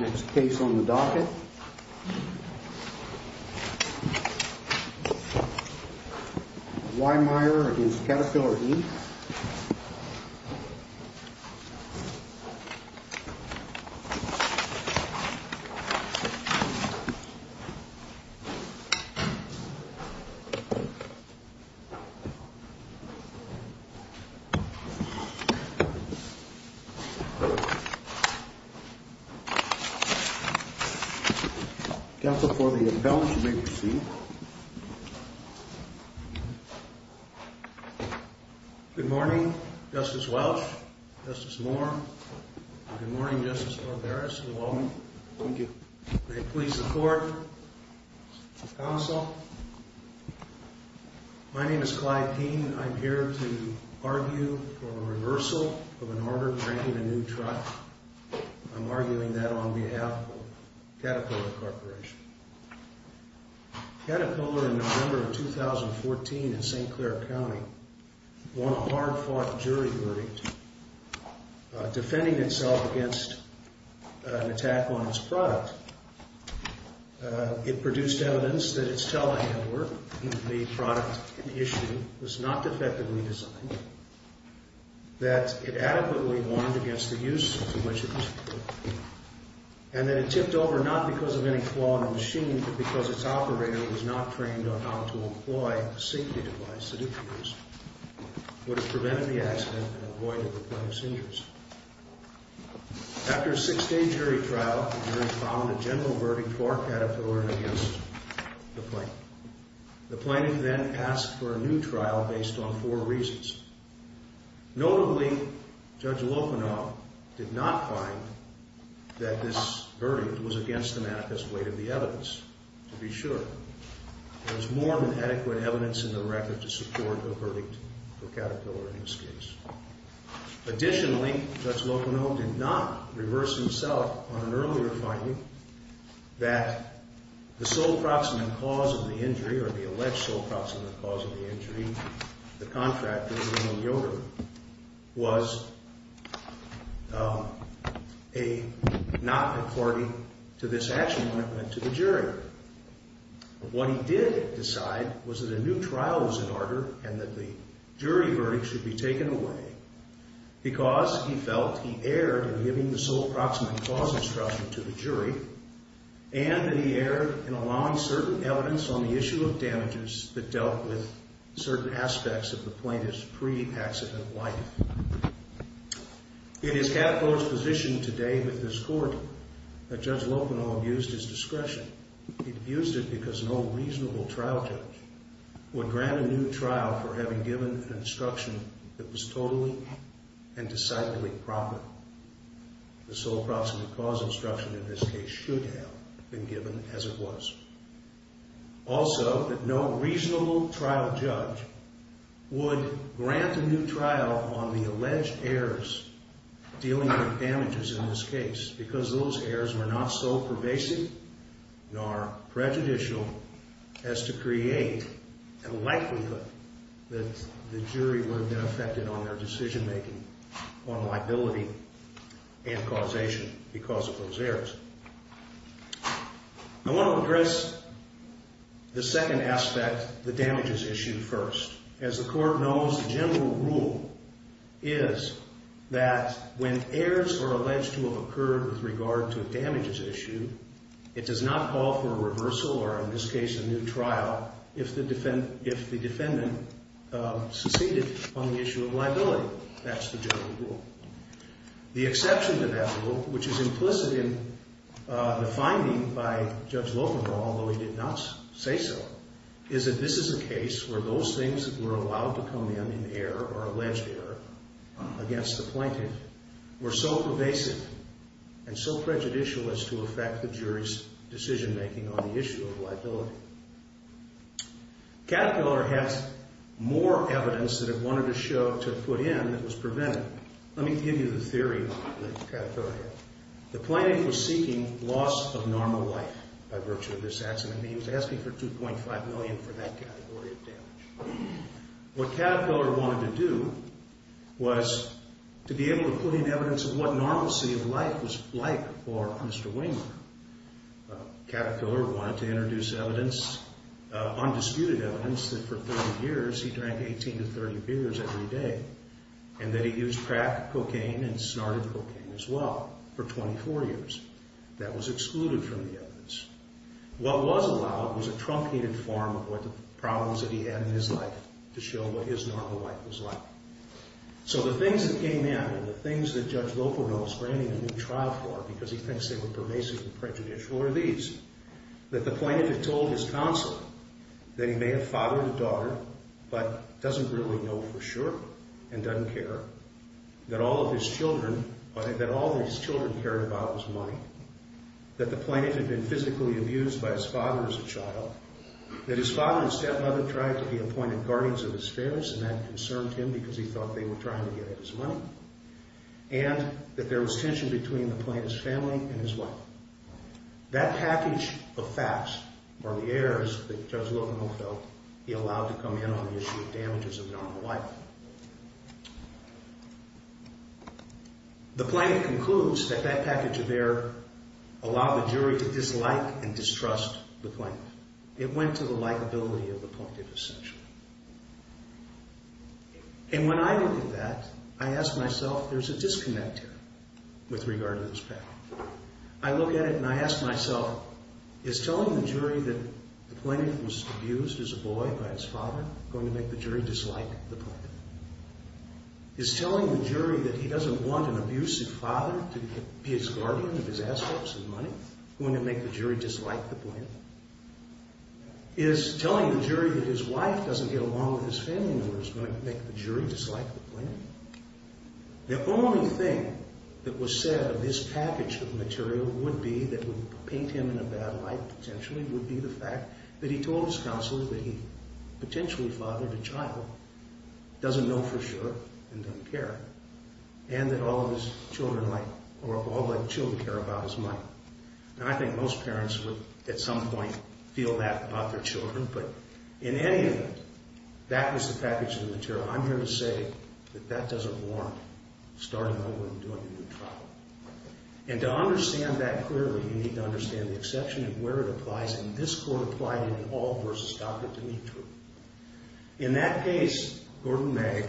Next case on the docket, Wehmeyer v. Caterpillar, Inc. Counsel for the appellant, you may proceed. Good morning, Justice Welch, Justice Moore, and good morning, Justice Barberis. Good morning. Thank you. May it please the court, counsel, my name is Clyde Keene, and I'm here to argue for a reversal of an order granting a new trust. I'm arguing that on behalf of Caterpillar Corporation. Caterpillar, in November of 2014 in St. Clair County, won a hard-fought jury verdict defending itself against an attack on its product. It produced evidence that its telehandler, the product in issue, was not defectively designed, that it adequately warned against the use of the widget, and that it tipped over not because of any flaw in the machine, but because its operator was not trained on how to employ a safety device that, if used, would have prevented the accident and avoided the plenty of injuries. After a six-day jury trial, the jury found a general verdict for Caterpillar and against the plaintiff. The plaintiff then asked for a new trial based on four reasons. Notably, Judge Lokanoff did not find that this verdict was against the manifest weight of the evidence, to be sure. There was more than adequate evidence in the record to support the verdict for Caterpillar in this case. Additionally, Judge Lokanoff did not reverse himself on an earlier finding that the sole proximate cause of the injury, or the alleged sole proximate cause of the injury, the contractor, William Yoder, was not according to this action when it went to the jury. What he did decide was that a new trial was in order and that the jury verdict should be taken away because he felt he erred in giving the sole proximate cause instruction to the jury and that he erred in allowing certain evidence on the issue of damages that dealt with certain aspects of the plaintiff's pre-accident life. It is Caterpillar's position today with this court that Judge Lokanoff used his discretion. He used it because no reasonable trial judge would grant a new trial for having given an instruction that was totally and decidedly proper. The sole proximate cause instruction in this case should have been given as it was. Also, that no reasonable trial judge would grant a new trial on the alleged errors dealing with damages in this case because those errors were not so pervasive nor prejudicial as to create a likelihood that the jury would have been affected on their decision making on liability and causation because of those errors. I want to address the second aspect, the damages issue first. As the court knows, the general rule is that when errors are alleged to have occurred with regard to a damages issue, it does not call for a reversal or in this case a new trial if the defendant succeeded on the issue of liability. That's the general rule. The exception to that rule, which is implicit in the finding by Judge Lokanoff, although he did not say so, is that this is a case where those things that were allowed to come in in error or alleged error against the plaintiff were so pervasive and so prejudicial as to affect the jury's decision making on the issue of liability. Caterpillar has more evidence that it wanted to show to put in that was prevented. Let me give you the theory of Caterpillar. The plaintiff was seeking loss of normal life by virtue of this accident. He was asking for $2.5 million for that category of damage. What Caterpillar wanted to do was to be able to put in evidence of what normalcy of life was like for Mr. Waymore. Caterpillar wanted to introduce evidence, undisputed evidence, that for 30 years he drank 18 to 30 beers every day and that he used crack, cocaine, and snorted cocaine as well for 24 years. That was excluded from the evidence. What was allowed was a truncated form of what the problems that he had in his life to show what his normal life was like. So the things that came in and the things that Judge Lokanoff is granting a new trial for because he thinks they were pervasive and prejudicial are these. That the plaintiff had told his consul that he may have fathered a daughter but doesn't really know for sure and doesn't care. That all of his children cared about was money. That the plaintiff had been physically abused by his father as a child. That his father and stepmother tried to be appointed guardians of his affairs and that concerned him because he thought they were trying to get at his money. And that there was tension between the plaintiff's family and his wife. That package of facts or the errors that Judge Lokanoff felt he allowed to come in on the issue of damages of normal life. The plaintiff concludes that that package of error allowed the jury to dislike and distrust the plaintiff. It went to the likability of the plaintiff essentially. And when I look at that, I ask myself, there's a disconnect here with regard to this package. I look at it and I ask myself, is telling the jury that the plaintiff was abused as a boy by his father going to make the jury dislike the plaintiff? Is telling the jury that he doesn't want an abusive father to be his guardian of his assets and money going to make the jury dislike the plaintiff? Is telling the jury that his wife doesn't get along with his family members going to make the jury dislike the plaintiff? The only thing that was said of this package of material would be that would paint him in a bad light potentially. Would be the fact that he told his counselor that he potentially fathered a child. Doesn't know for sure and doesn't care. And that all of his children like, or all of his children care about his money. And I think most parents would at some point feel that about their children. But I'm here to say that that doesn't warrant starting over and doing a new trial. And to understand that clearly, you need to understand the exception of where it applies. And this court applied it in all versus Stockard to meet true. In that case, Gordon Mag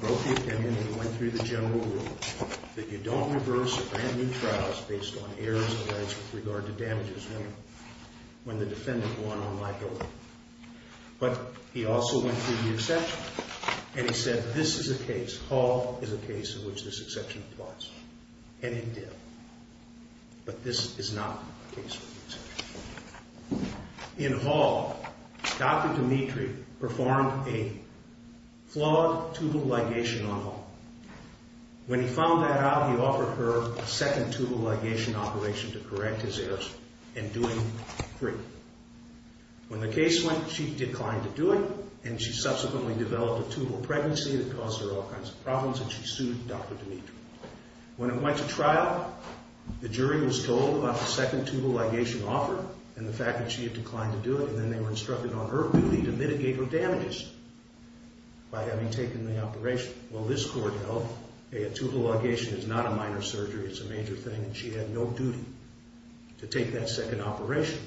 wrote the opinion and went through the general rule that you don't reverse a brand new trial based on errors of edge with regard to damages when the defendant won on my bill. But he also went through the exception and he said this is a case. Hall is a case in which this exception applies. And it did. But this is not the case. In Hall, Dr. Dmitri performed a flawed tubal ligation on Hall. When he found that out, he offered her a second tubal ligation operation to correct his errors and do it free. When the case went, she declined to do it. And she subsequently developed a tubal pregnancy that caused her all kinds of problems. And she sued Dr. Dmitri. When it went to trial, the jury was told about the second tubal ligation offered and the fact that she had declined to do it. And then they were instructed on her duty to mitigate her damages by having taken the operation. Well, this court held a tubal ligation is not a minor surgery. It's a major thing. And she had no duty to take that second operation.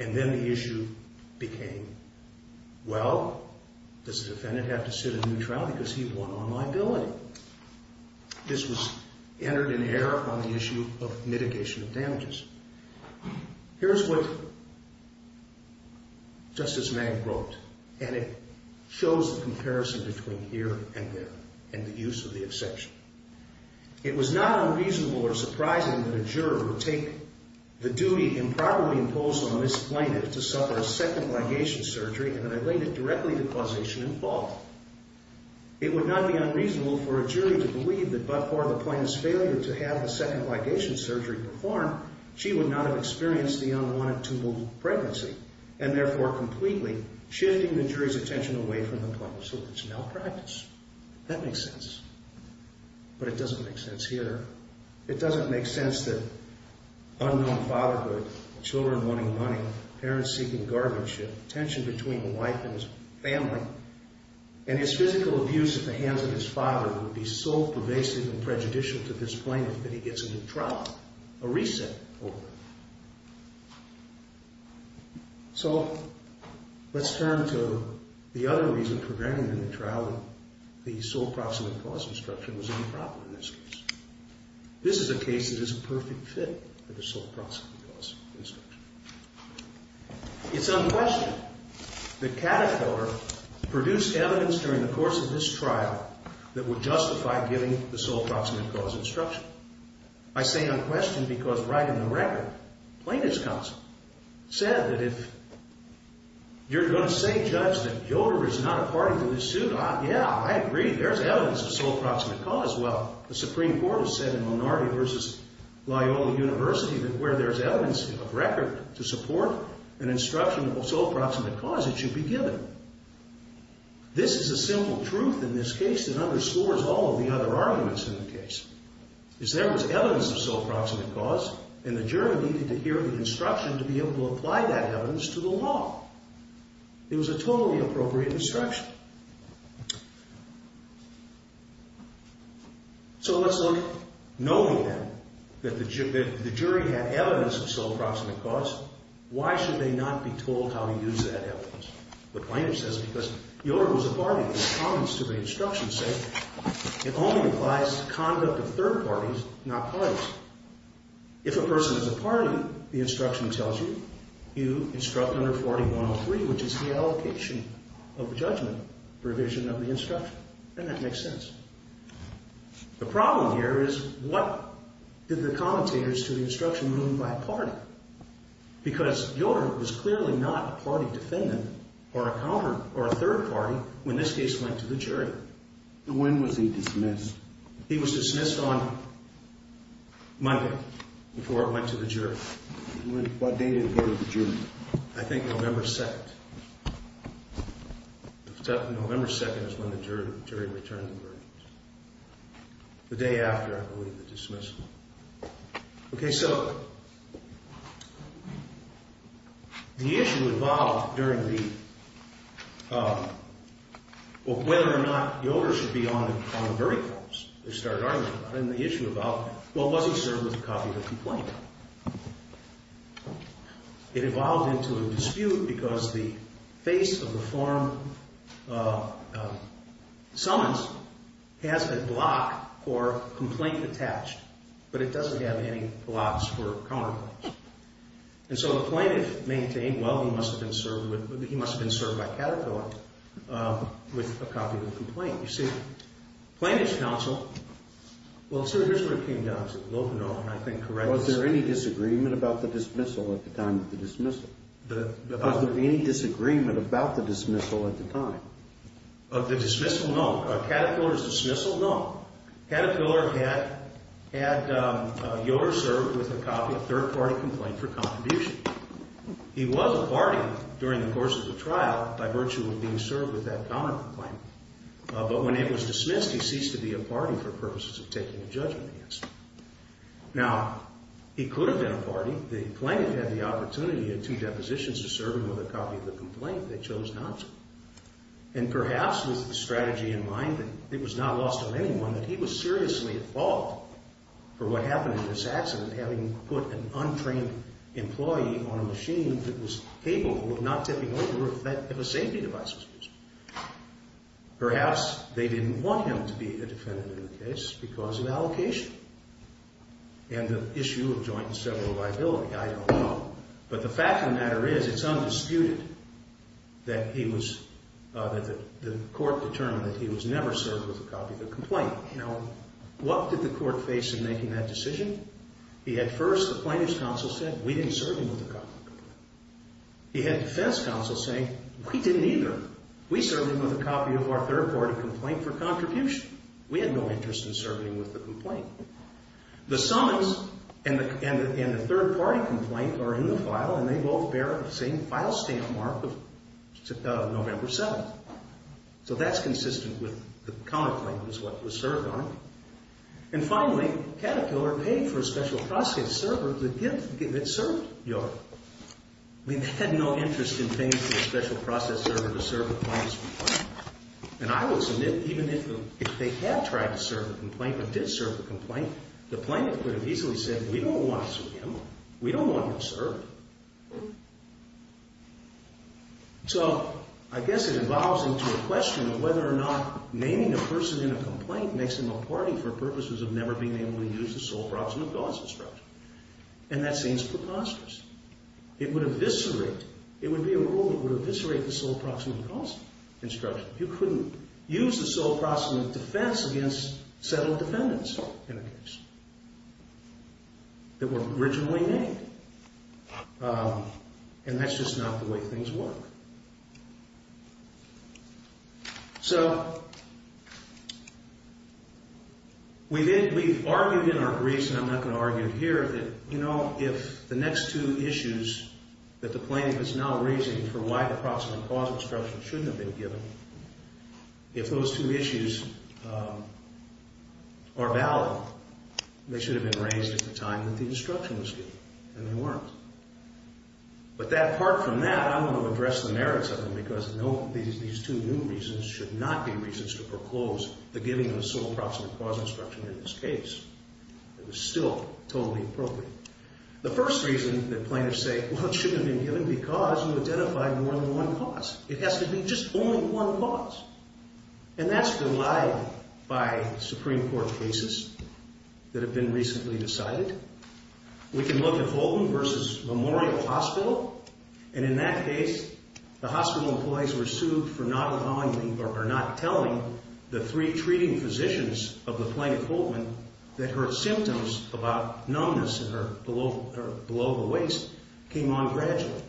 And then the issue became, well, does the defendant have to sit a new trial because he won on my billing? This was entered in error on the issue of mitigation of damages. Here's what Justice Magg wrote. And it shows the comparison between here and there and the use of the exception. It was not unreasonable or surprising that a juror would take the duty improperly imposed on a misplaintiff to suffer a second ligation surgery and relate it directly to causation and fault. It would not be unreasonable for a jury to believe that but for the plaintiff's failure to have the second ligation surgery performed, she would not have experienced the unwanted tubal pregnancy. And therefore, completely shifting the jury's attention away from the point of service malpractice. That makes sense. But it doesn't make sense here. It doesn't make sense that unknown fatherhood, children wanting money, parents seeking guardianship, tension between the wife and his family, and his physical abuse at the hands of his father would be so pervasive and prejudicial to this plaintiff that he gets a new trial, a reset over it. So, let's turn to the other reason preventing the trial. The sole proximate cause instruction was improper in this case. This is a case that is a perfect fit for the sole proximate cause instruction. It's unquestioned that Caterpillar produced evidence during the course of this trial that would justify giving the sole proximate cause instruction. I say unquestioned because right in the record, plaintiff's counsel said that if you're going to say, judge, that Yoder is not a party to this suit, yeah, I agree, there's evidence of sole proximate cause. Well, the Supreme Court has said in Lonardi v. Loyola University that where there's evidence of record to support an instruction of sole proximate cause, it should be given. This is a simple truth in this case that underscores all of the other arguments in the case. There was evidence of sole proximate cause, and the jury needed to hear the instruction to be able to apply that evidence to the law. It was a totally appropriate instruction. So, let's look, knowing that the jury had evidence of sole proximate cause, why should they not be told how to use that evidence? The plaintiff says because Yoder was a party, the comments to the instruction say it only applies to conduct of third parties, not parties. If a person is a party, the instruction tells you, you instruct under 4103, which is the allocation of judgment provision of the instruction, and that makes sense. The problem here is what did the commentators to the instruction mean by party? Because Yoder was clearly not a party defendant or a third party when this case went to the jury. When was he dismissed? He was dismissed on Monday before it went to the jury. What date did it go to the jury? I think November 2nd. November 2nd is when the jury returned the verdict. The day after, I believe, the dismissal. Okay, so the issue evolved during the, well, whether or not Yoder should be on the verdict forms, they started arguing about it, and the issue about, well, was he served with a copy of the complaint? It evolved into a dispute because the face of the form summons has a block for complaint attached, but it doesn't have any blocks for counterclaims. And so the plaintiff maintained, well, he must have been served by catecholam with a copy of the complaint. You see, plaintiff's counsel, well, sir, here's what it came down to. Was there any disagreement about the dismissal at the time of the dismissal? Was there any disagreement about the dismissal at the time? Of the dismissal, no. Catecholam's dismissal, no. Catecholam had Yoder served with a copy of third party complaint for contribution. He was a party during the course of the trial by virtue of being served with that counterclaim. But when it was dismissed, he ceased to be a party for purposes of taking a judgment against him. Now, he could have been a party. The plaintiff had the opportunity in two depositions to serve him with a copy of the complaint. They chose not to. And perhaps with the strategy in mind that it was not lost on anyone, that he was seriously at fault for what happened in this accident, having put an untrained employee on a machine that was capable of not tipping over if a safety device was used. Perhaps they didn't want him to be a defendant in the case because of allocation and the issue of joint and several liability. I don't know. But the fact of the matter is it's undisputed that he was, that the court determined that he was never served with a copy of the complaint. Now, what did the court face in making that decision? He had first, the plaintiff's counsel said, we didn't serve him with a copy of the complaint. He had defense counsel saying, we didn't either. We served him with a copy of our third party complaint for contribution. We had no interest in serving him with the complaint. The summons and the third party complaint are in the file and they both bear the same file stamp mark of November 7th. So that's consistent with the counterclaim was what was served on him. And finally, Caterpillar paid for a special process server that served York. We had no interest in paying for a special process server to serve the plaintiff's complaint. And I will submit, even if they had tried to serve the complaint, but did serve the complaint, the plaintiff could have easily said, we don't want to serve him. We don't want him served. So I guess it evolves into a question of whether or not naming a person in a complaint makes them a party for purposes of never being able to use the sole proximate cause instruction. And that seems preposterous. It would eviscerate, it would be a rule that would eviscerate the sole proximate cause instruction. You couldn't use the sole proximate defense against settled defendants in a case that were originally named. And that's just not the way things work. So we did, we've argued in our briefs, and I'm not going to argue it here, you know, if the next two issues that the plaintiff is now raising for why the proximate cause instruction shouldn't have been given, if those two issues are valid, they should have been raised at the time that the instruction was given. And they weren't. But apart from that, I don't want to address the merits of them, because these two new reasons should not be reasons to proclose the giving of the sole proximate cause instruction in this case. It was still totally appropriate. The first reason that plaintiffs say, well, it shouldn't have been given because you identified more than one cause. It has to be just only one cause. And that's been lied by Supreme Court cases that have been recently decided. We can look at Holman v. Memorial Hospital. And in that case, the hospital employees were sued for not allowing, or not telling the three treating physicians of the plaintiff, Holman, that her symptoms about numbness below the waist came on gradually.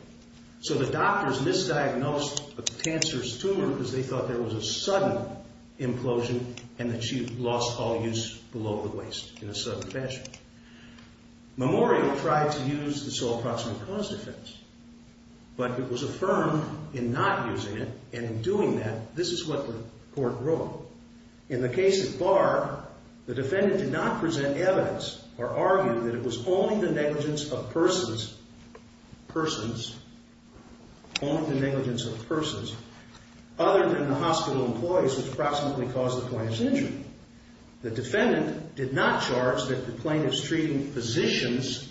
So the doctors misdiagnosed the cancerous tumor because they thought there was a sudden implosion and that she lost all use below the waist in a sudden fashion. Memorial tried to use the sole proximate cause defense, but it was affirmed in not using it. And in doing that, this is what the court wrote. In the case of Barr, the defendant did not present evidence or argue that it was only the negligence of persons, persons, only the negligence of persons, other than the hospital employees which approximately caused the plaintiff's injury. The defendant did not charge that the plaintiff's treating physicians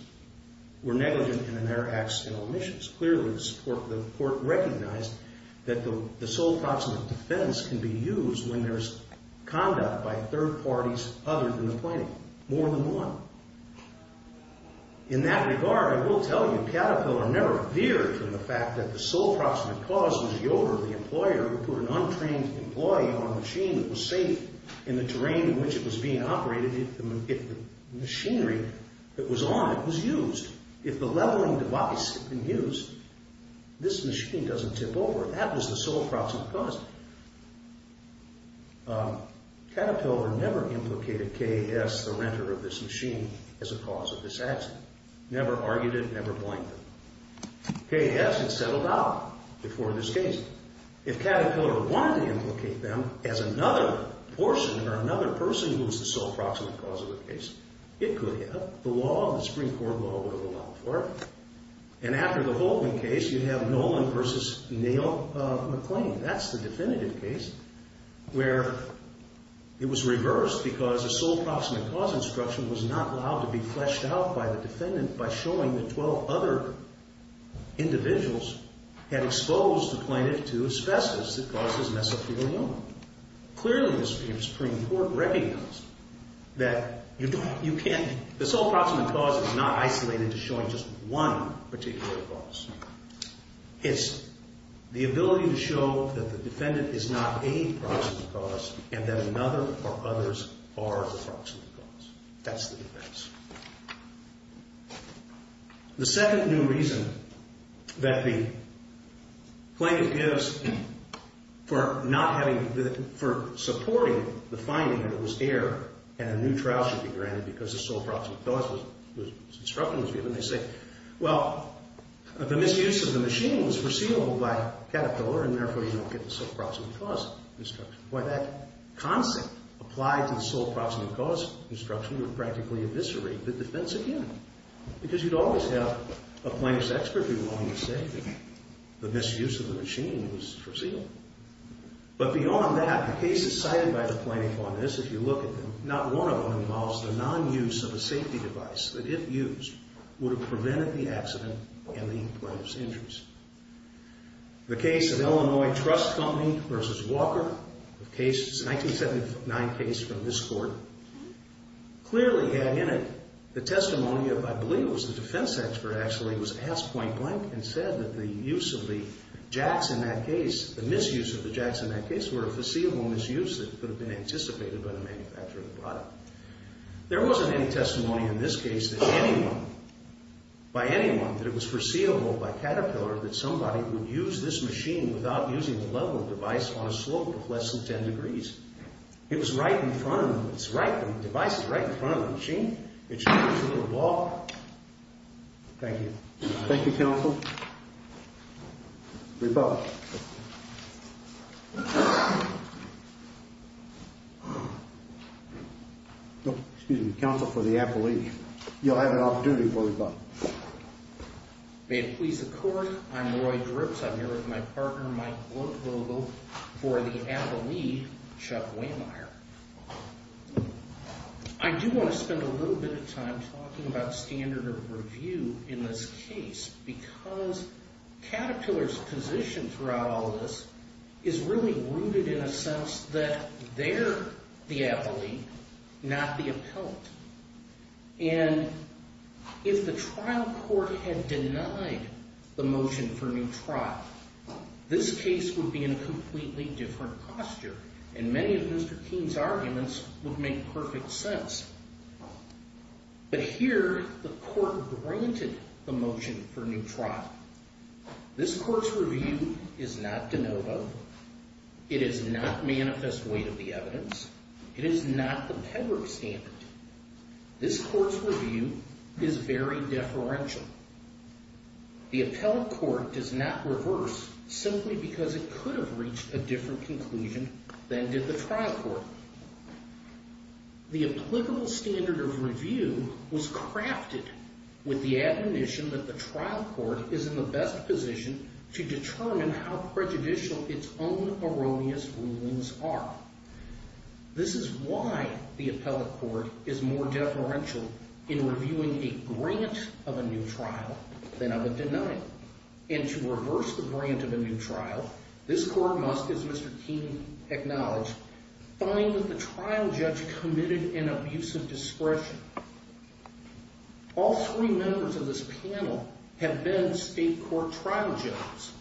were negligent in their accidental omissions. Clearly, the court recognized that the sole proximate defense can be used when there's conduct by third parties other than the plaintiff, more than one. In that regard, I will tell you Caterpillar never veered from the fact that the sole proximate cause was Yoder, the employer, who put an untrained employee on a machine that was safe in the terrain in which it was being operated. If the machinery that was on it was used. If the leveling device had been used, this machine doesn't tip over. That was the sole proximate cause. Caterpillar never implicated K.S., the renter of this machine, as a cause of this accident. Never argued it, never blamed him. K.S. had settled out before this case. If Caterpillar wanted to implicate them as another person who was the sole proximate cause of the case, it could have. The law, the Supreme Court law, would have allowed for it. And after the Holman case, you have Nolan versus Neal McLean. That's the definitive case where it was reversed because the sole proximate cause instruction was not allowed to be fleshed out by the defendant by showing that 12 other individuals had exposed the plaintiff to asbestos that caused this mess up to go on. Clearly, the Supreme Court recognized that you can't. The sole proximate cause is not isolated to showing just one particular cause. It's the ability to show that the defendant is not a proximate cause and that another or others are the proximate cause. That's the defense. The second new reason that the plaintiff gives for not having, for supporting the finding that it was error and a new trial should be granted because the sole proximate cause instruction was given. They say, well, the misuse of the machine was foreseeable by Caterpillar and therefore you don't get the sole proximate cause instruction. Why, that concept applied to the sole proximate cause instruction would practically eviscerate the defense again because you'd always have a plaintiff's expert be willing to say that the misuse of the machine was foreseeable. But beyond that, the cases cited by the plaintiff on this, if you look at them, not one of them involves the non-use of a safety device that, if used, would have prevented the accident and the plaintiff's injuries. The case of Illinois Trust Company versus Walker, a 1979 case from this court, clearly had in it the testimony of, I believe it was the defense expert actually, was asked point blank and said that the use of the jacks in that case, the misuse of the jacks in that case were a foreseeable misuse that could have been anticipated by the manufacturer of the product. There wasn't any testimony in this case that anyone, by anyone, that it was foreseeable by Caterpillar that somebody would use this machine without using the level of device on a slope of less than 10 degrees. It was right in front of them. It's right in front of them. The device is right in front of the machine. It should be able to walk. Thank you. Thank you, counsel. Rebut. Excuse me. Counsel for the appellee. You'll have an opportunity for rebut. May it please the court. I'm Roy Drips. I'm here with my partner, Mike Glodvogel, for the appellee, Chuck Waymyer. I do want to spend a little bit of time talking about standard of review in this case because Caterpillar's position throughout all of this is really rooted in a sense that they're the appellee, not the appellant. And if the trial court had denied the motion for new trial, this case would be in a completely different posture, and many of Mr. Keene's arguments would make perfect sense. But here, the court granted the motion for new trial. This court's review is not de novo. It is not manifest weight of the evidence. It is not the pedigree standard. This court's review is very deferential. The appellate court does not reverse simply because it could have reached a different conclusion than did the trial court. The applicable standard of review was crafted with the admonition that the trial court is in the best position to determine how prejudicial its own erroneous rulings are. This is why the appellate court is more deferential in reviewing a grant of a new trial than of a denial. And to reverse the grant of a new trial, this court must, as Mr. Keene acknowledged, find that the trial judge committed an abusive discretion. All three members of this panel have been state court trial judges.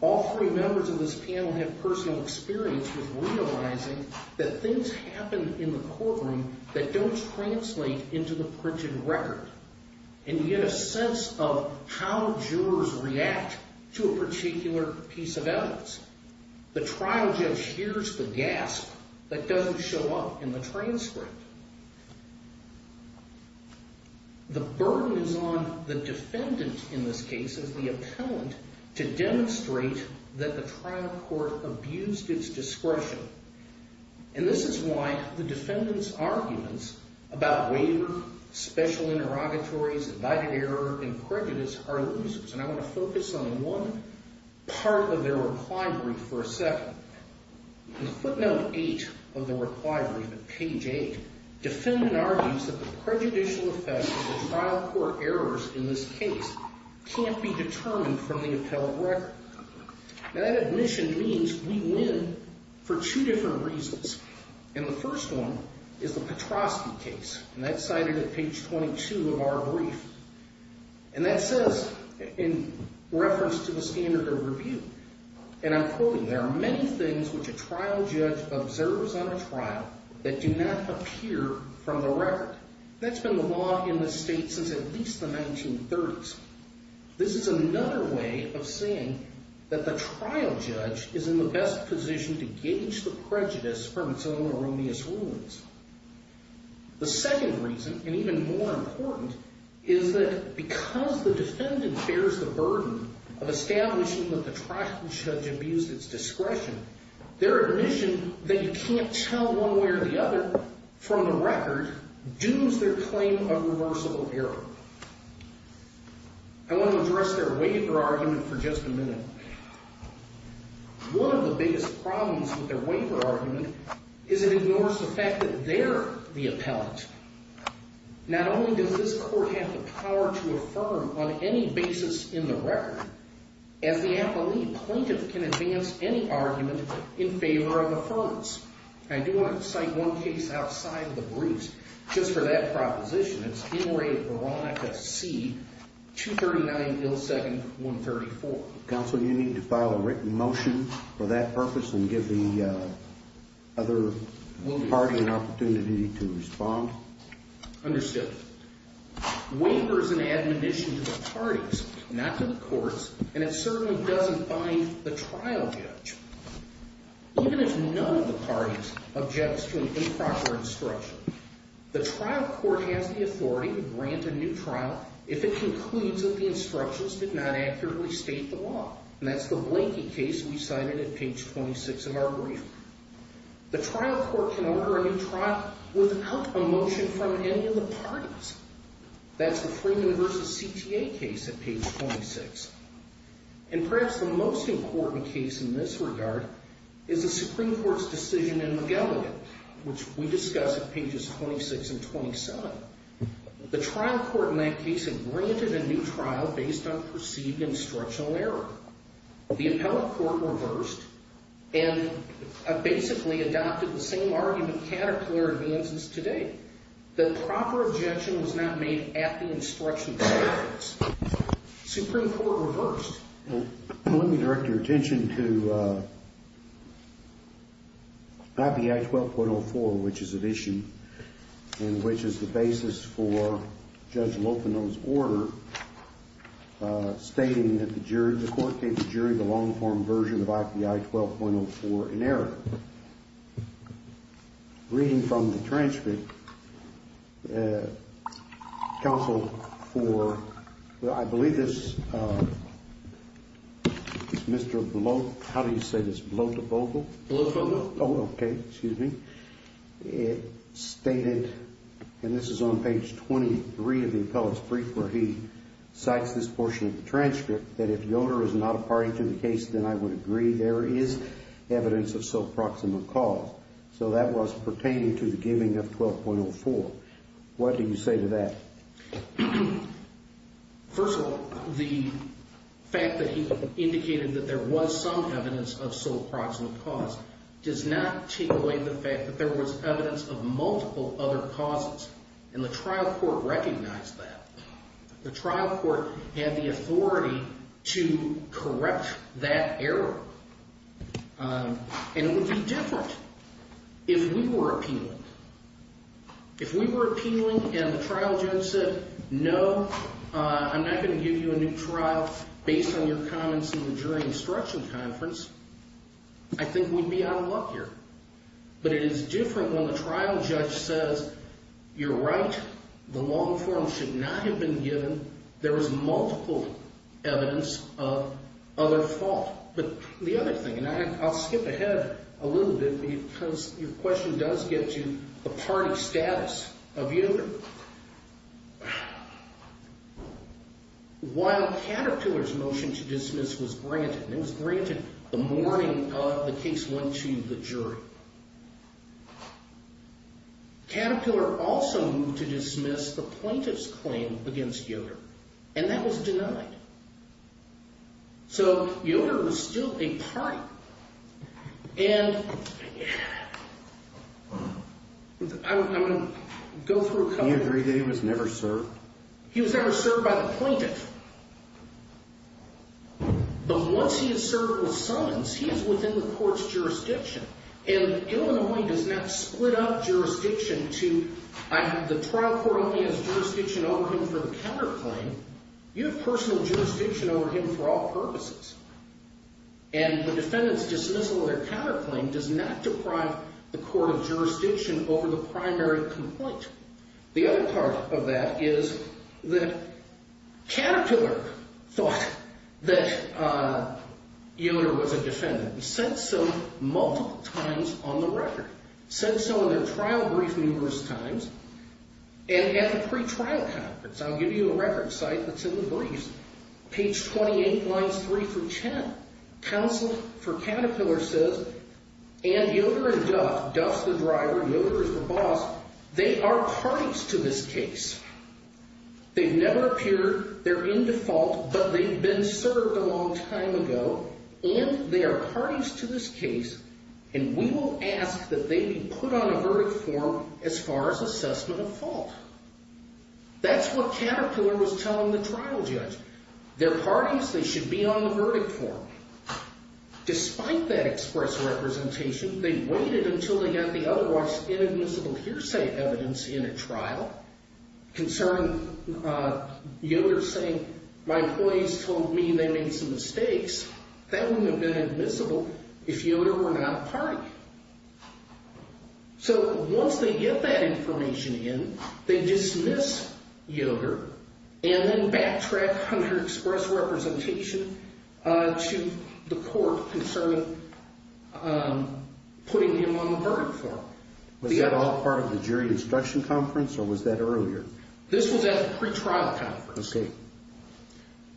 All three members of this panel have personal experience with realizing that things happen in the courtroom that don't translate into the printed record. And you get a sense of how jurors react to a particular piece of evidence. The trial judge hears the gasp that doesn't show up in the transcript. The burden is on the defendant in this case, as the appellant, to demonstrate that the trial court abused its discretion. And this is why the defendant's arguments about waiver, special interrogatories, abided error, and prejudice are losers. And I want to focus on one part of their reply brief for a second. In footnote 8 of the reply brief, at page 8, defendant argues that the prejudicial effects of the trial court errors in this case can't be determined from the appellate record. Now, that admission means we win for two different reasons. And the first one is the Petrosky case. And that's cited at page 22 of our brief. And that says, in reference to the standard of review, and I'm quoting, there are many things which a trial judge observes on a trial that do not appear from the record. That's been the law in this state since at least the 1930s. This is another way of saying that the trial judge is in the best position to gauge the prejudice from its own erroneous rulings. The second reason, and even more important, is that because the defendant bears the burden of establishing that the trial judge abused its discretion, their admission that you can't tell one way or the other from the record dooms their claim of reversible error. I want to address their waiver argument for just a minute. One of the biggest problems with their waiver argument is it ignores the fact that they're the appellate. Not only does this court have the power to affirm on any basis in the record, as the appellee plaintiff can advance any argument in favor of affirmance. I do want to cite one case outside of the briefs. Just for that proposition, it's NRA Veronica C. 239 Ill Second 134. Counsel, do you need to file a written motion for that purpose and give the other party an opportunity to respond? Understood. Waiver is an admonition to the parties, not to the courts, and it certainly doesn't bind the trial judge. Even if none of the parties objects to an improper instruction, the trial court has the authority to grant a new trial if it concludes that the instructions did not accurately state the law, and that's the Blankey case we cited at page 26 of our brief. The trial court can order a new trial without a motion from any of the parties. That's the Freeman v. CTA case at page 26. And perhaps the most important case in this regard is the Supreme Court's decision in McGilligan, which we discuss at pages 26 and 27. The trial court in that case had granted a new trial based on perceived instructional error. The appellate court reversed and basically adopted the same argument caterpillar advances today, that proper objection was not made at the instruction of the parties. Supreme Court reversed. Let me direct your attention to IPI 12.04, which is an issue and which is the basis for Judge Lopino's order stating that the jury, the court gave the jury the long-form version of IPI 12.04 in error. Reading from the transcript, counsel for, I believe this Mr. Blote, how do you say this, Blote-Bogle? Blote-Bogle. Oh, okay, excuse me. It stated, and this is on page 23 of the appellate's brief where he cites this portion of the transcript, that if Yoder is not a party to the case, then I would agree. There is evidence of sole proximate cause. So that was pertaining to the giving of 12.04. What do you say to that? First of all, the fact that he indicated that there was some evidence of sole proximate cause does not take away the fact that there was evidence of multiple other causes, and the trial court recognized that. The trial court had the authority to correct that error, and it would be different if we were appealing. If we were appealing and the trial judge said, no, I'm not going to give you a new trial based on your comments in the jury instruction conference, I think we'd be out of luck here. But it is different when the trial judge says, you're right, the long form should not have been given. There was multiple evidence of other fault. But the other thing, and I'll skip ahead a little bit because your question does get you the party status of Yoder. While Caterpillar's motion to dismiss was granted, and it was granted the morning the case went to the jury, Caterpillar also moved to dismiss the plaintiff's claim against Yoder, and that was denied. So Yoder was still a party. And I'm going to go through a couple of things. Do you agree that he was never served? He was never served by the plaintiff. But once he is served with summons, he is within the court's jurisdiction. And Illinois does not split up jurisdiction to, the trial court only has jurisdiction over him for the counterclaim. You have personal jurisdiction over him for all purposes. And the defendant's dismissal of their counterclaim does not deprive the court of jurisdiction over the primary complaint. The other part of that is that Caterpillar thought that Yoder was a defendant and said so multiple times on the record. Said so in their trial brief numerous times. And at the pre-trial conference, I'll give you a record site that's in the briefs, page 28, lines 3 through 10, counsel for Caterpillar says, and Yoder and Duff, Duff's the driver, Yoder's the boss, they are parties to this case. They've never appeared, they're in default, but they've been served a long time ago, and they are parties to this case, and we will ask that they be put on a verdict form as far as assessment of fault. That's what Caterpillar was telling the trial judge. They're parties, they should be on the verdict form. Despite that express representation, they waited until they got the otherwise inadmissible hearsay evidence in a trial concerning Yoder saying, my employees told me they made some mistakes, that wouldn't have been admissible if Yoder were not a party. So once they get that information in, they dismiss Yoder and then backtrack under express representation to the court concerning putting him on the verdict form. Was that all part of the jury instruction conference or was that earlier? This was at the pre-trial conference.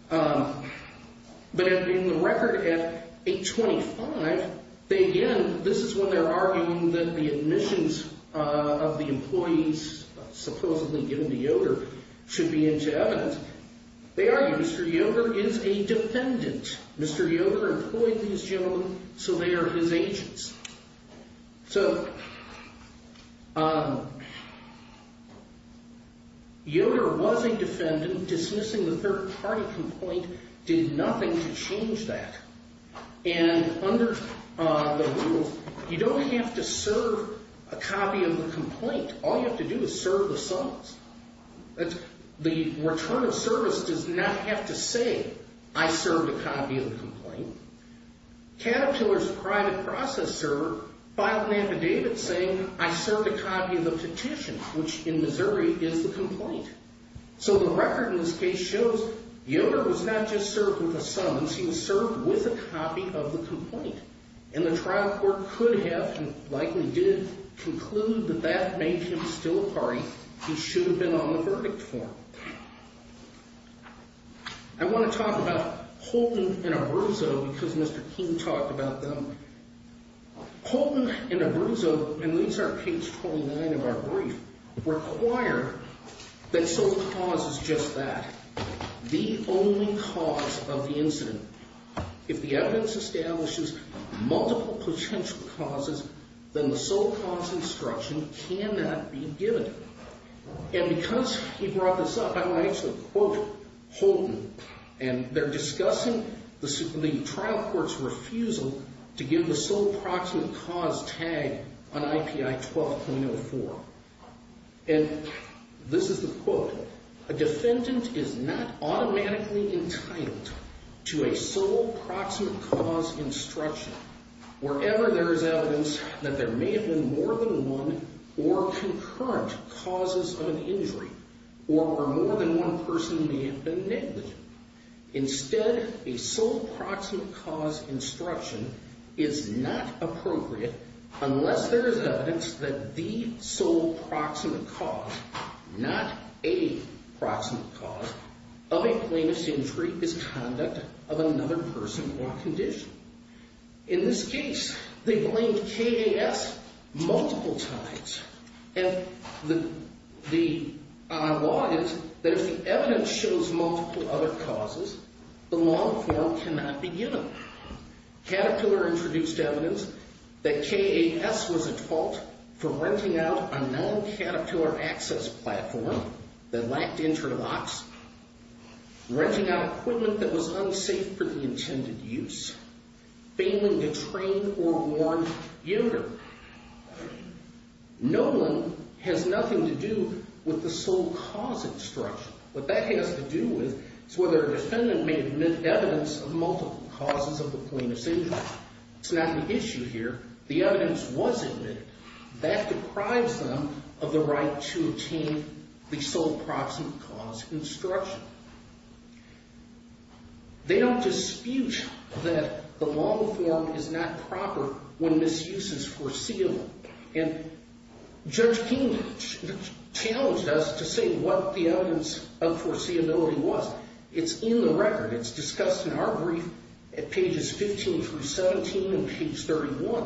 But in the record at 825, this is when they're arguing that the admissions of the employees supposedly given to Yoder should be into evidence. They argue Mr. Yoder is a defendant. Mr. Yoder employed these gentlemen, so they are his agents. So Yoder was a defendant. Dismissing the third party complaint did nothing to change that. And under the rules, you don't have to serve a copy of the complaint. All you have to do is serve the summons. The return of service does not have to say, I served a copy of the complaint. Caterpillar's private processor filed an affidavit saying, I served a copy of the petition, which in Missouri is the complaint. So the record in this case shows Yoder was not just served with a summons, he was served with a copy of the complaint. And the trial court could have, and likely did, conclude that that made him still a party. He should have been on the verdict form. I want to talk about Holton and Abruzzo, because Mr. King talked about them. Holton and Abruzzo, and these are page 29 of our brief, required that sole cause is just that, the only cause of the incident. If the evidence establishes multiple potential causes, then the sole cause instruction cannot be given. And because he brought this up, I want to actually quote Holton. And they're discussing the trial court's refusal to give the sole proximate cause tag on IPI 12.04. And this is the quote. A defendant is not automatically entitled to a sole proximate cause instruction wherever there is evidence that there may have been more than one or concurrent causes of an injury, or where more than one person may have been negligent. Instead, a sole proximate cause instruction is not appropriate unless there is evidence that the sole proximate cause, not a proximate cause, of a plaintiff's injury is conduct of another person or condition. In this case, they blamed KAS multiple times. And the law is that if the evidence shows multiple other causes, the law can not be given. Caterpillar introduced evidence that KAS was at fault for renting out a non-Caterpillar access platform that lacked interlocks, renting out equipment that was unsafe for the intended use, failing to train or warn younger. No one has nothing to do with the sole cause instruction. What that has to do with is whether a defendant may admit evidence of multiple causes of the plaintiff's injury. It's not the issue here. The evidence was admitted. That deprives them of the right to obtain the sole proximate cause instruction. They don't dispute that the long form is not proper when misuse is foreseeable. And Judge King challenged us to say what the evidence of foreseeability was. It's in the record. It's discussed in our brief at pages 15 through 17 and page 31.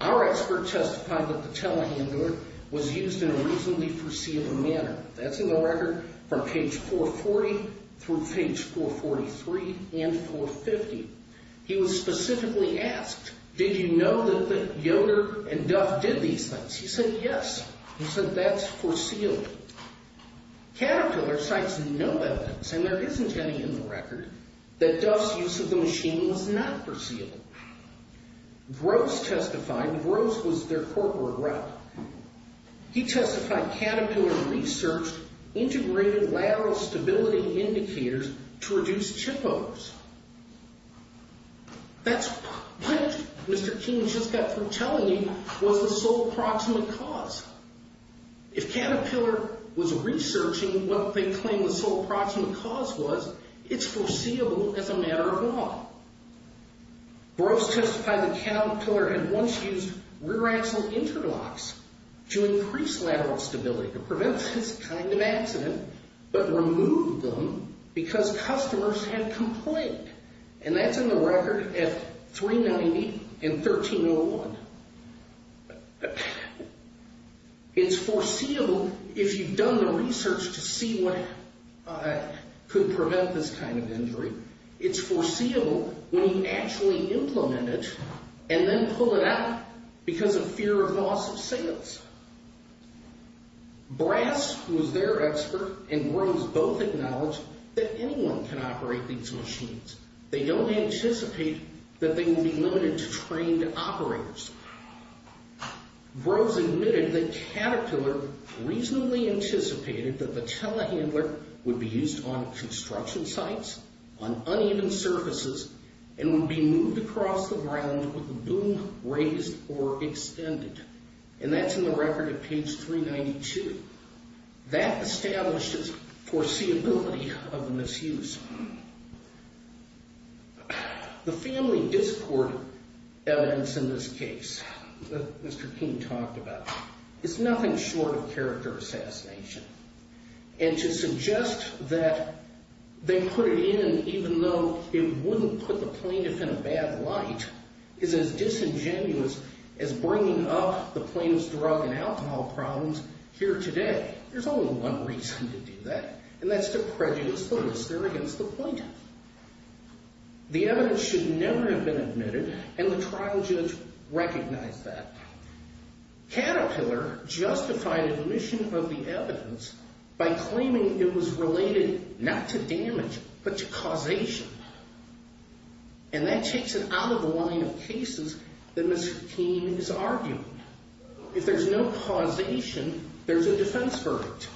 Our expert testified that the telehandler was used in a reasonably foreseeable manner. That's in the record from page 440 through page 443 and 450. He was specifically asked, did you know that Yoder and Duff did these things? He said, yes. He said, that's foreseeable. Caterpillar cites no evidence, and there isn't any in the record, that Duff's use of the machine was not foreseeable. Gross testified. Gross was their corporate rep. He testified Caterpillar researched integrated lateral stability indicators to reduce chip overs. That's what Mr. King just got through telling me was the sole proximate cause. If Caterpillar was researching what they claim the sole proximate cause was, it's foreseeable as a matter of law. Gross testified that Caterpillar had once used rear axle interlocks to increase lateral stability to prevent this kind of accident, but removed them because customers had complained. That's in the record at 390 and 1301. It's foreseeable, what could prevent this kind of injury, it's foreseeable when you actually implement it and then pull it out because of fear of loss of sales. Brass was their expert, and Gross both acknowledged that anyone can operate these machines. They don't anticipate that they will be limited to trained operators. Gross admitted that Caterpillar reasonably anticipated that the telehandler would be used on construction sites, on uneven surfaces, and would be moved across the ground with the boom raised or extended. And that's in the record at page 392. That establishes foreseeability of misuse. The family discord evidence in this case that Mr. King talked about, it's nothing short of character assassination. And to suggest that they put it in even though it wouldn't put the plaintiff in a bad light is as disingenuous as bringing up the plaintiff's drug and alcohol problems here today. There's only one reason to do that, and that's to prejudice the listener against the plaintiff. The evidence should never have been admitted, and the trial judge recognized that. Caterpillar justified admission of the evidence by claiming it was related not to damage, but to causation. And that takes it out of the line of cases that Mr. King is arguing. If there's no causation, there's a defense verdict.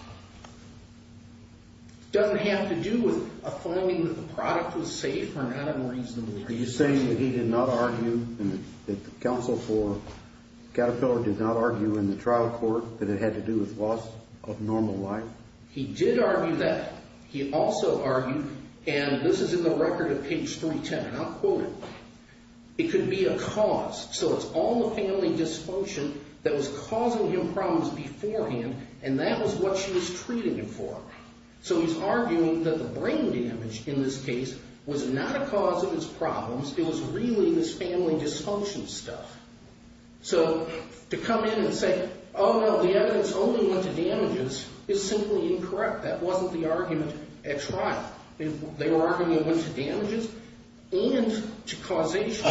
It doesn't have to do with a finding that the product was safe or not a reasonable use. Are you saying that he did not argue and that the counsel for Caterpillar did not argue in the trial court that it had to do with loss of normal life? He did argue that. He also argued, and this is in the record of page 310, and I'll quote it. It could be a cause. So it's all the family dysfunction that was causing him problems beforehand, and that was what she was treating him for. So he's arguing that the brain damage in this case was not a cause of his problems. It was really this family dysfunction stuff. So to come in and say, oh, no, the evidence only went to damages is simply incorrect. That wasn't the argument at trial. They were arguing it went to damages and to causation.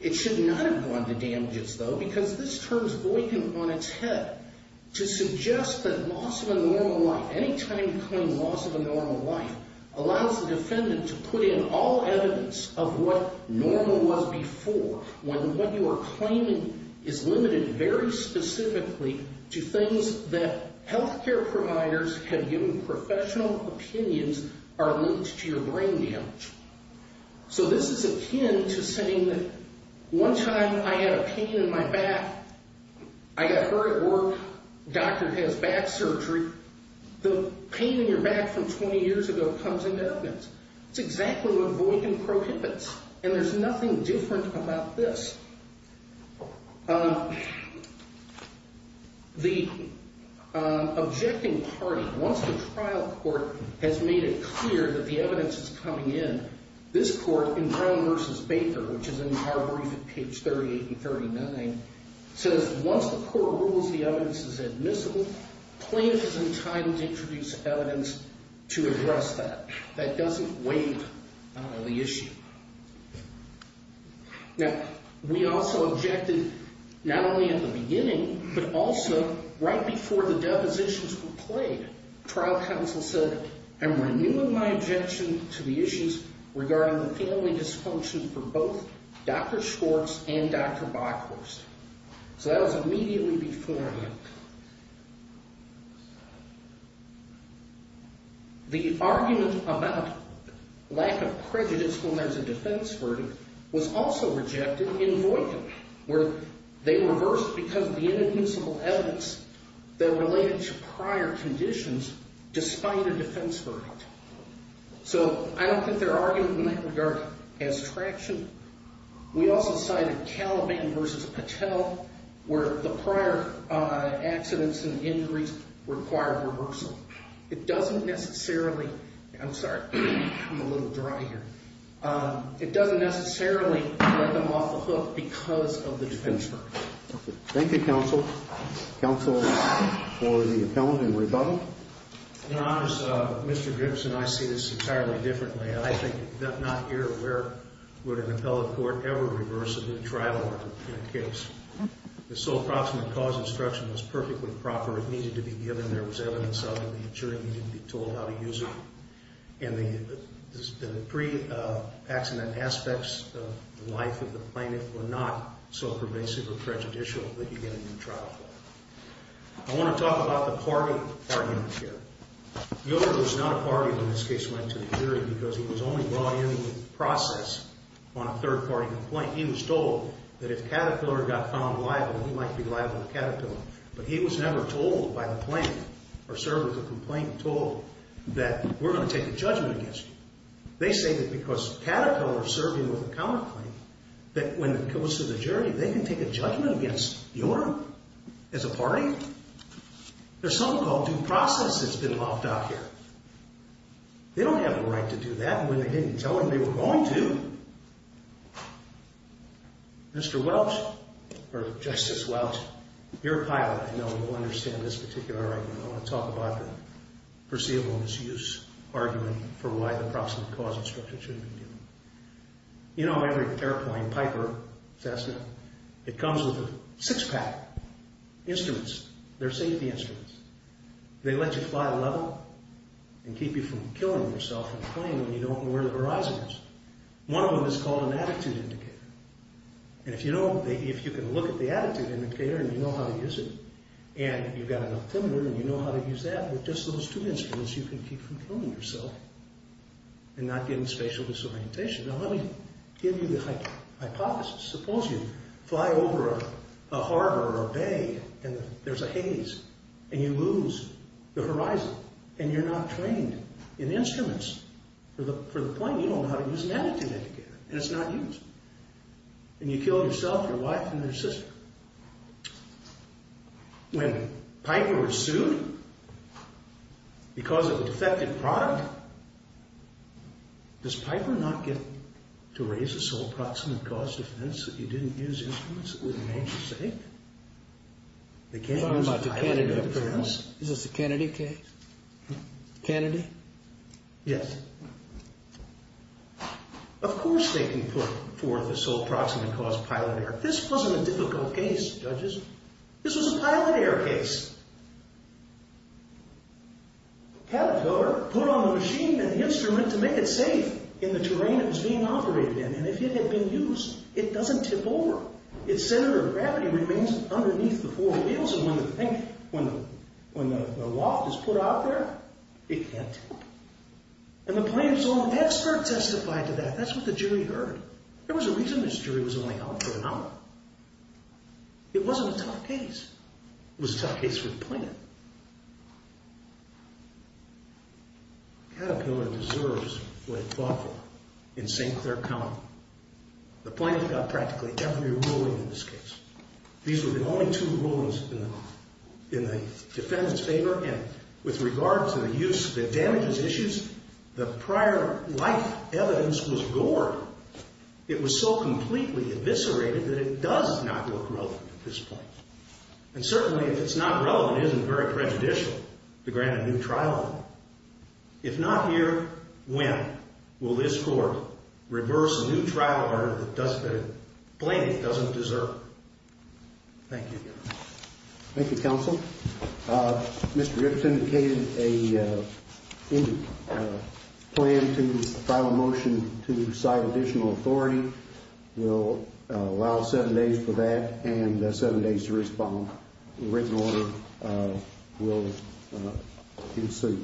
It should not have gone to damages, though, because this term is boycotted on its head to suggest that loss of a normal life, any time you claim loss of a normal life, allows the defendant to put in all evidence of what normal was before, when what you are claiming is limited very specifically to things that health care providers have given professional opinions are linked to your brain damage. So this is akin to saying that one time I had a pain in my back. I got hurt at work. Doctor has back surgery. The pain in your back from 20 years ago comes into evidence. It's exactly what Boykin prohibits, and there's nothing different about this. The objecting party, once the trial court has made it clear that the evidence is coming in, this court in Brown v. Baker, which is in our brief at page 38 and 39, says once the court rules the evidence is admissible, plaintiff is entitled to introduce evidence to address that. That doesn't waive, I don't know, the issue. Now, we also objected, not only at the beginning, but also right before the depositions were played. Trial counsel said, I'm renewing my objection to the issues regarding the family dysfunction for both Dr. Schwartz and Dr. Bychhorst. So that was immediately beforehand. The argument about lack of prejudice when there's a defense verdict was also rejected in Boykin, where they reversed because of the inadmissible evidence that related to prior conditions despite a defense verdict. So I don't think their argument in that regard has traction. We also cited Caliban v. Patel, where the prior evidence of accidents and injuries required reversal. It doesn't necessarily... I'm sorry, I'm a little dry here. It doesn't necessarily get them off the hook because of the defense verdict. Thank you, counsel. Counsel for the appellant in rebuttal. In all honesty, Mr. Gibson, I see this entirely differently. I think you're not aware would an appellate court ever reverse a good trial argument in that case. The sole proximate cause instruction was perfectly proper. It needed to be given. There was evidence of it. The attorney needed to be told how to use it. And the pre-accident aspects of the life of the plaintiff were not so pervasive or prejudicial that you get a new trial for it. I want to talk about the party argument here. Gilbert was not a party when this case went to the jury because he was only brought in with the process on a third-party complaint. He was told that if Caterpillar got found liable, he might be liable to Caterpillar. But he was never told by the plaintiff or served with a complaint told that we're going to take a judgment against you. They say that because Caterpillar is serving with a counterclaim, that when it goes to the jury, they can take a judgment against you as a party? There's something called due process that's been lopped out here. They don't have the right to do that when they didn't tell him they were going to. Mr. Welch, or Justice Welch, you're a pilot. I know you understand this particular argument. I want to talk about the perceivable misuse argument for why the proximate cause instruction shouldn't be given. You know, every airplane, Piper, Cessna, it comes with six-pack instruments. They're safety instruments. They let you fly level and keep you from killing yourself in a plane when you don't know where the horizon is. One of them is called an attitude indicator. If you can look at the attitude indicator and you know how to use it, and you've got an altimeter and you know how to use that, with just those two instruments, you can keep from killing yourself and not getting spatial disorientation. Now, let me give you the hypothesis. Suppose you fly over a harbor or a bay, and there's a haze, and you lose the horizon, and you're not trained in instruments for the plane. You don't know how to use an attitude indicator, and it's not used. And you kill yourself, your wife, and your sister. When Piper was sued because of a defective product, does Piper not get to raise a sole proximate cause defense that you didn't use instruments that were the nature of safety? They can't use a piloted defense. Is this a Kennedy case? Kennedy? Yes. Of course they can put forth a sole proximate cause pilot error. This wasn't a difficult case, judges. This was a pilot error case. Caterpillar put on the machine and the instrument to make it safe in the terrain it was being operated in, and if it had been used, it doesn't tip over. Its center of gravity remains underneath the four wheels, and when the loft is put out there, it can't tip. And the plane's own expert testified to that. That's what the jury heard. There was a reason this jury was only out for an hour. It wasn't a tough case. It was a tough case for the plane. Caterpillar deserves what it fought for in St. Clair County. The plane got practically every ruling in this case. These were the only two rulings in the defendant's favor, and with regard to the use that damages issues, the prior life evidence was gored. It was so completely eviscerated that it does not look relevant at this point. And certainly if it's not relevant, it isn't very prejudicial to grant a new trial order. If not here, when will this court reverse a new trial order that the plane doesn't deserve? Thank you. Thank you, counsel. Mr. Ripps indicated a plan to file a motion to cite additional authority. We'll allow seven days for that and seven days to respond. The written order will ensue.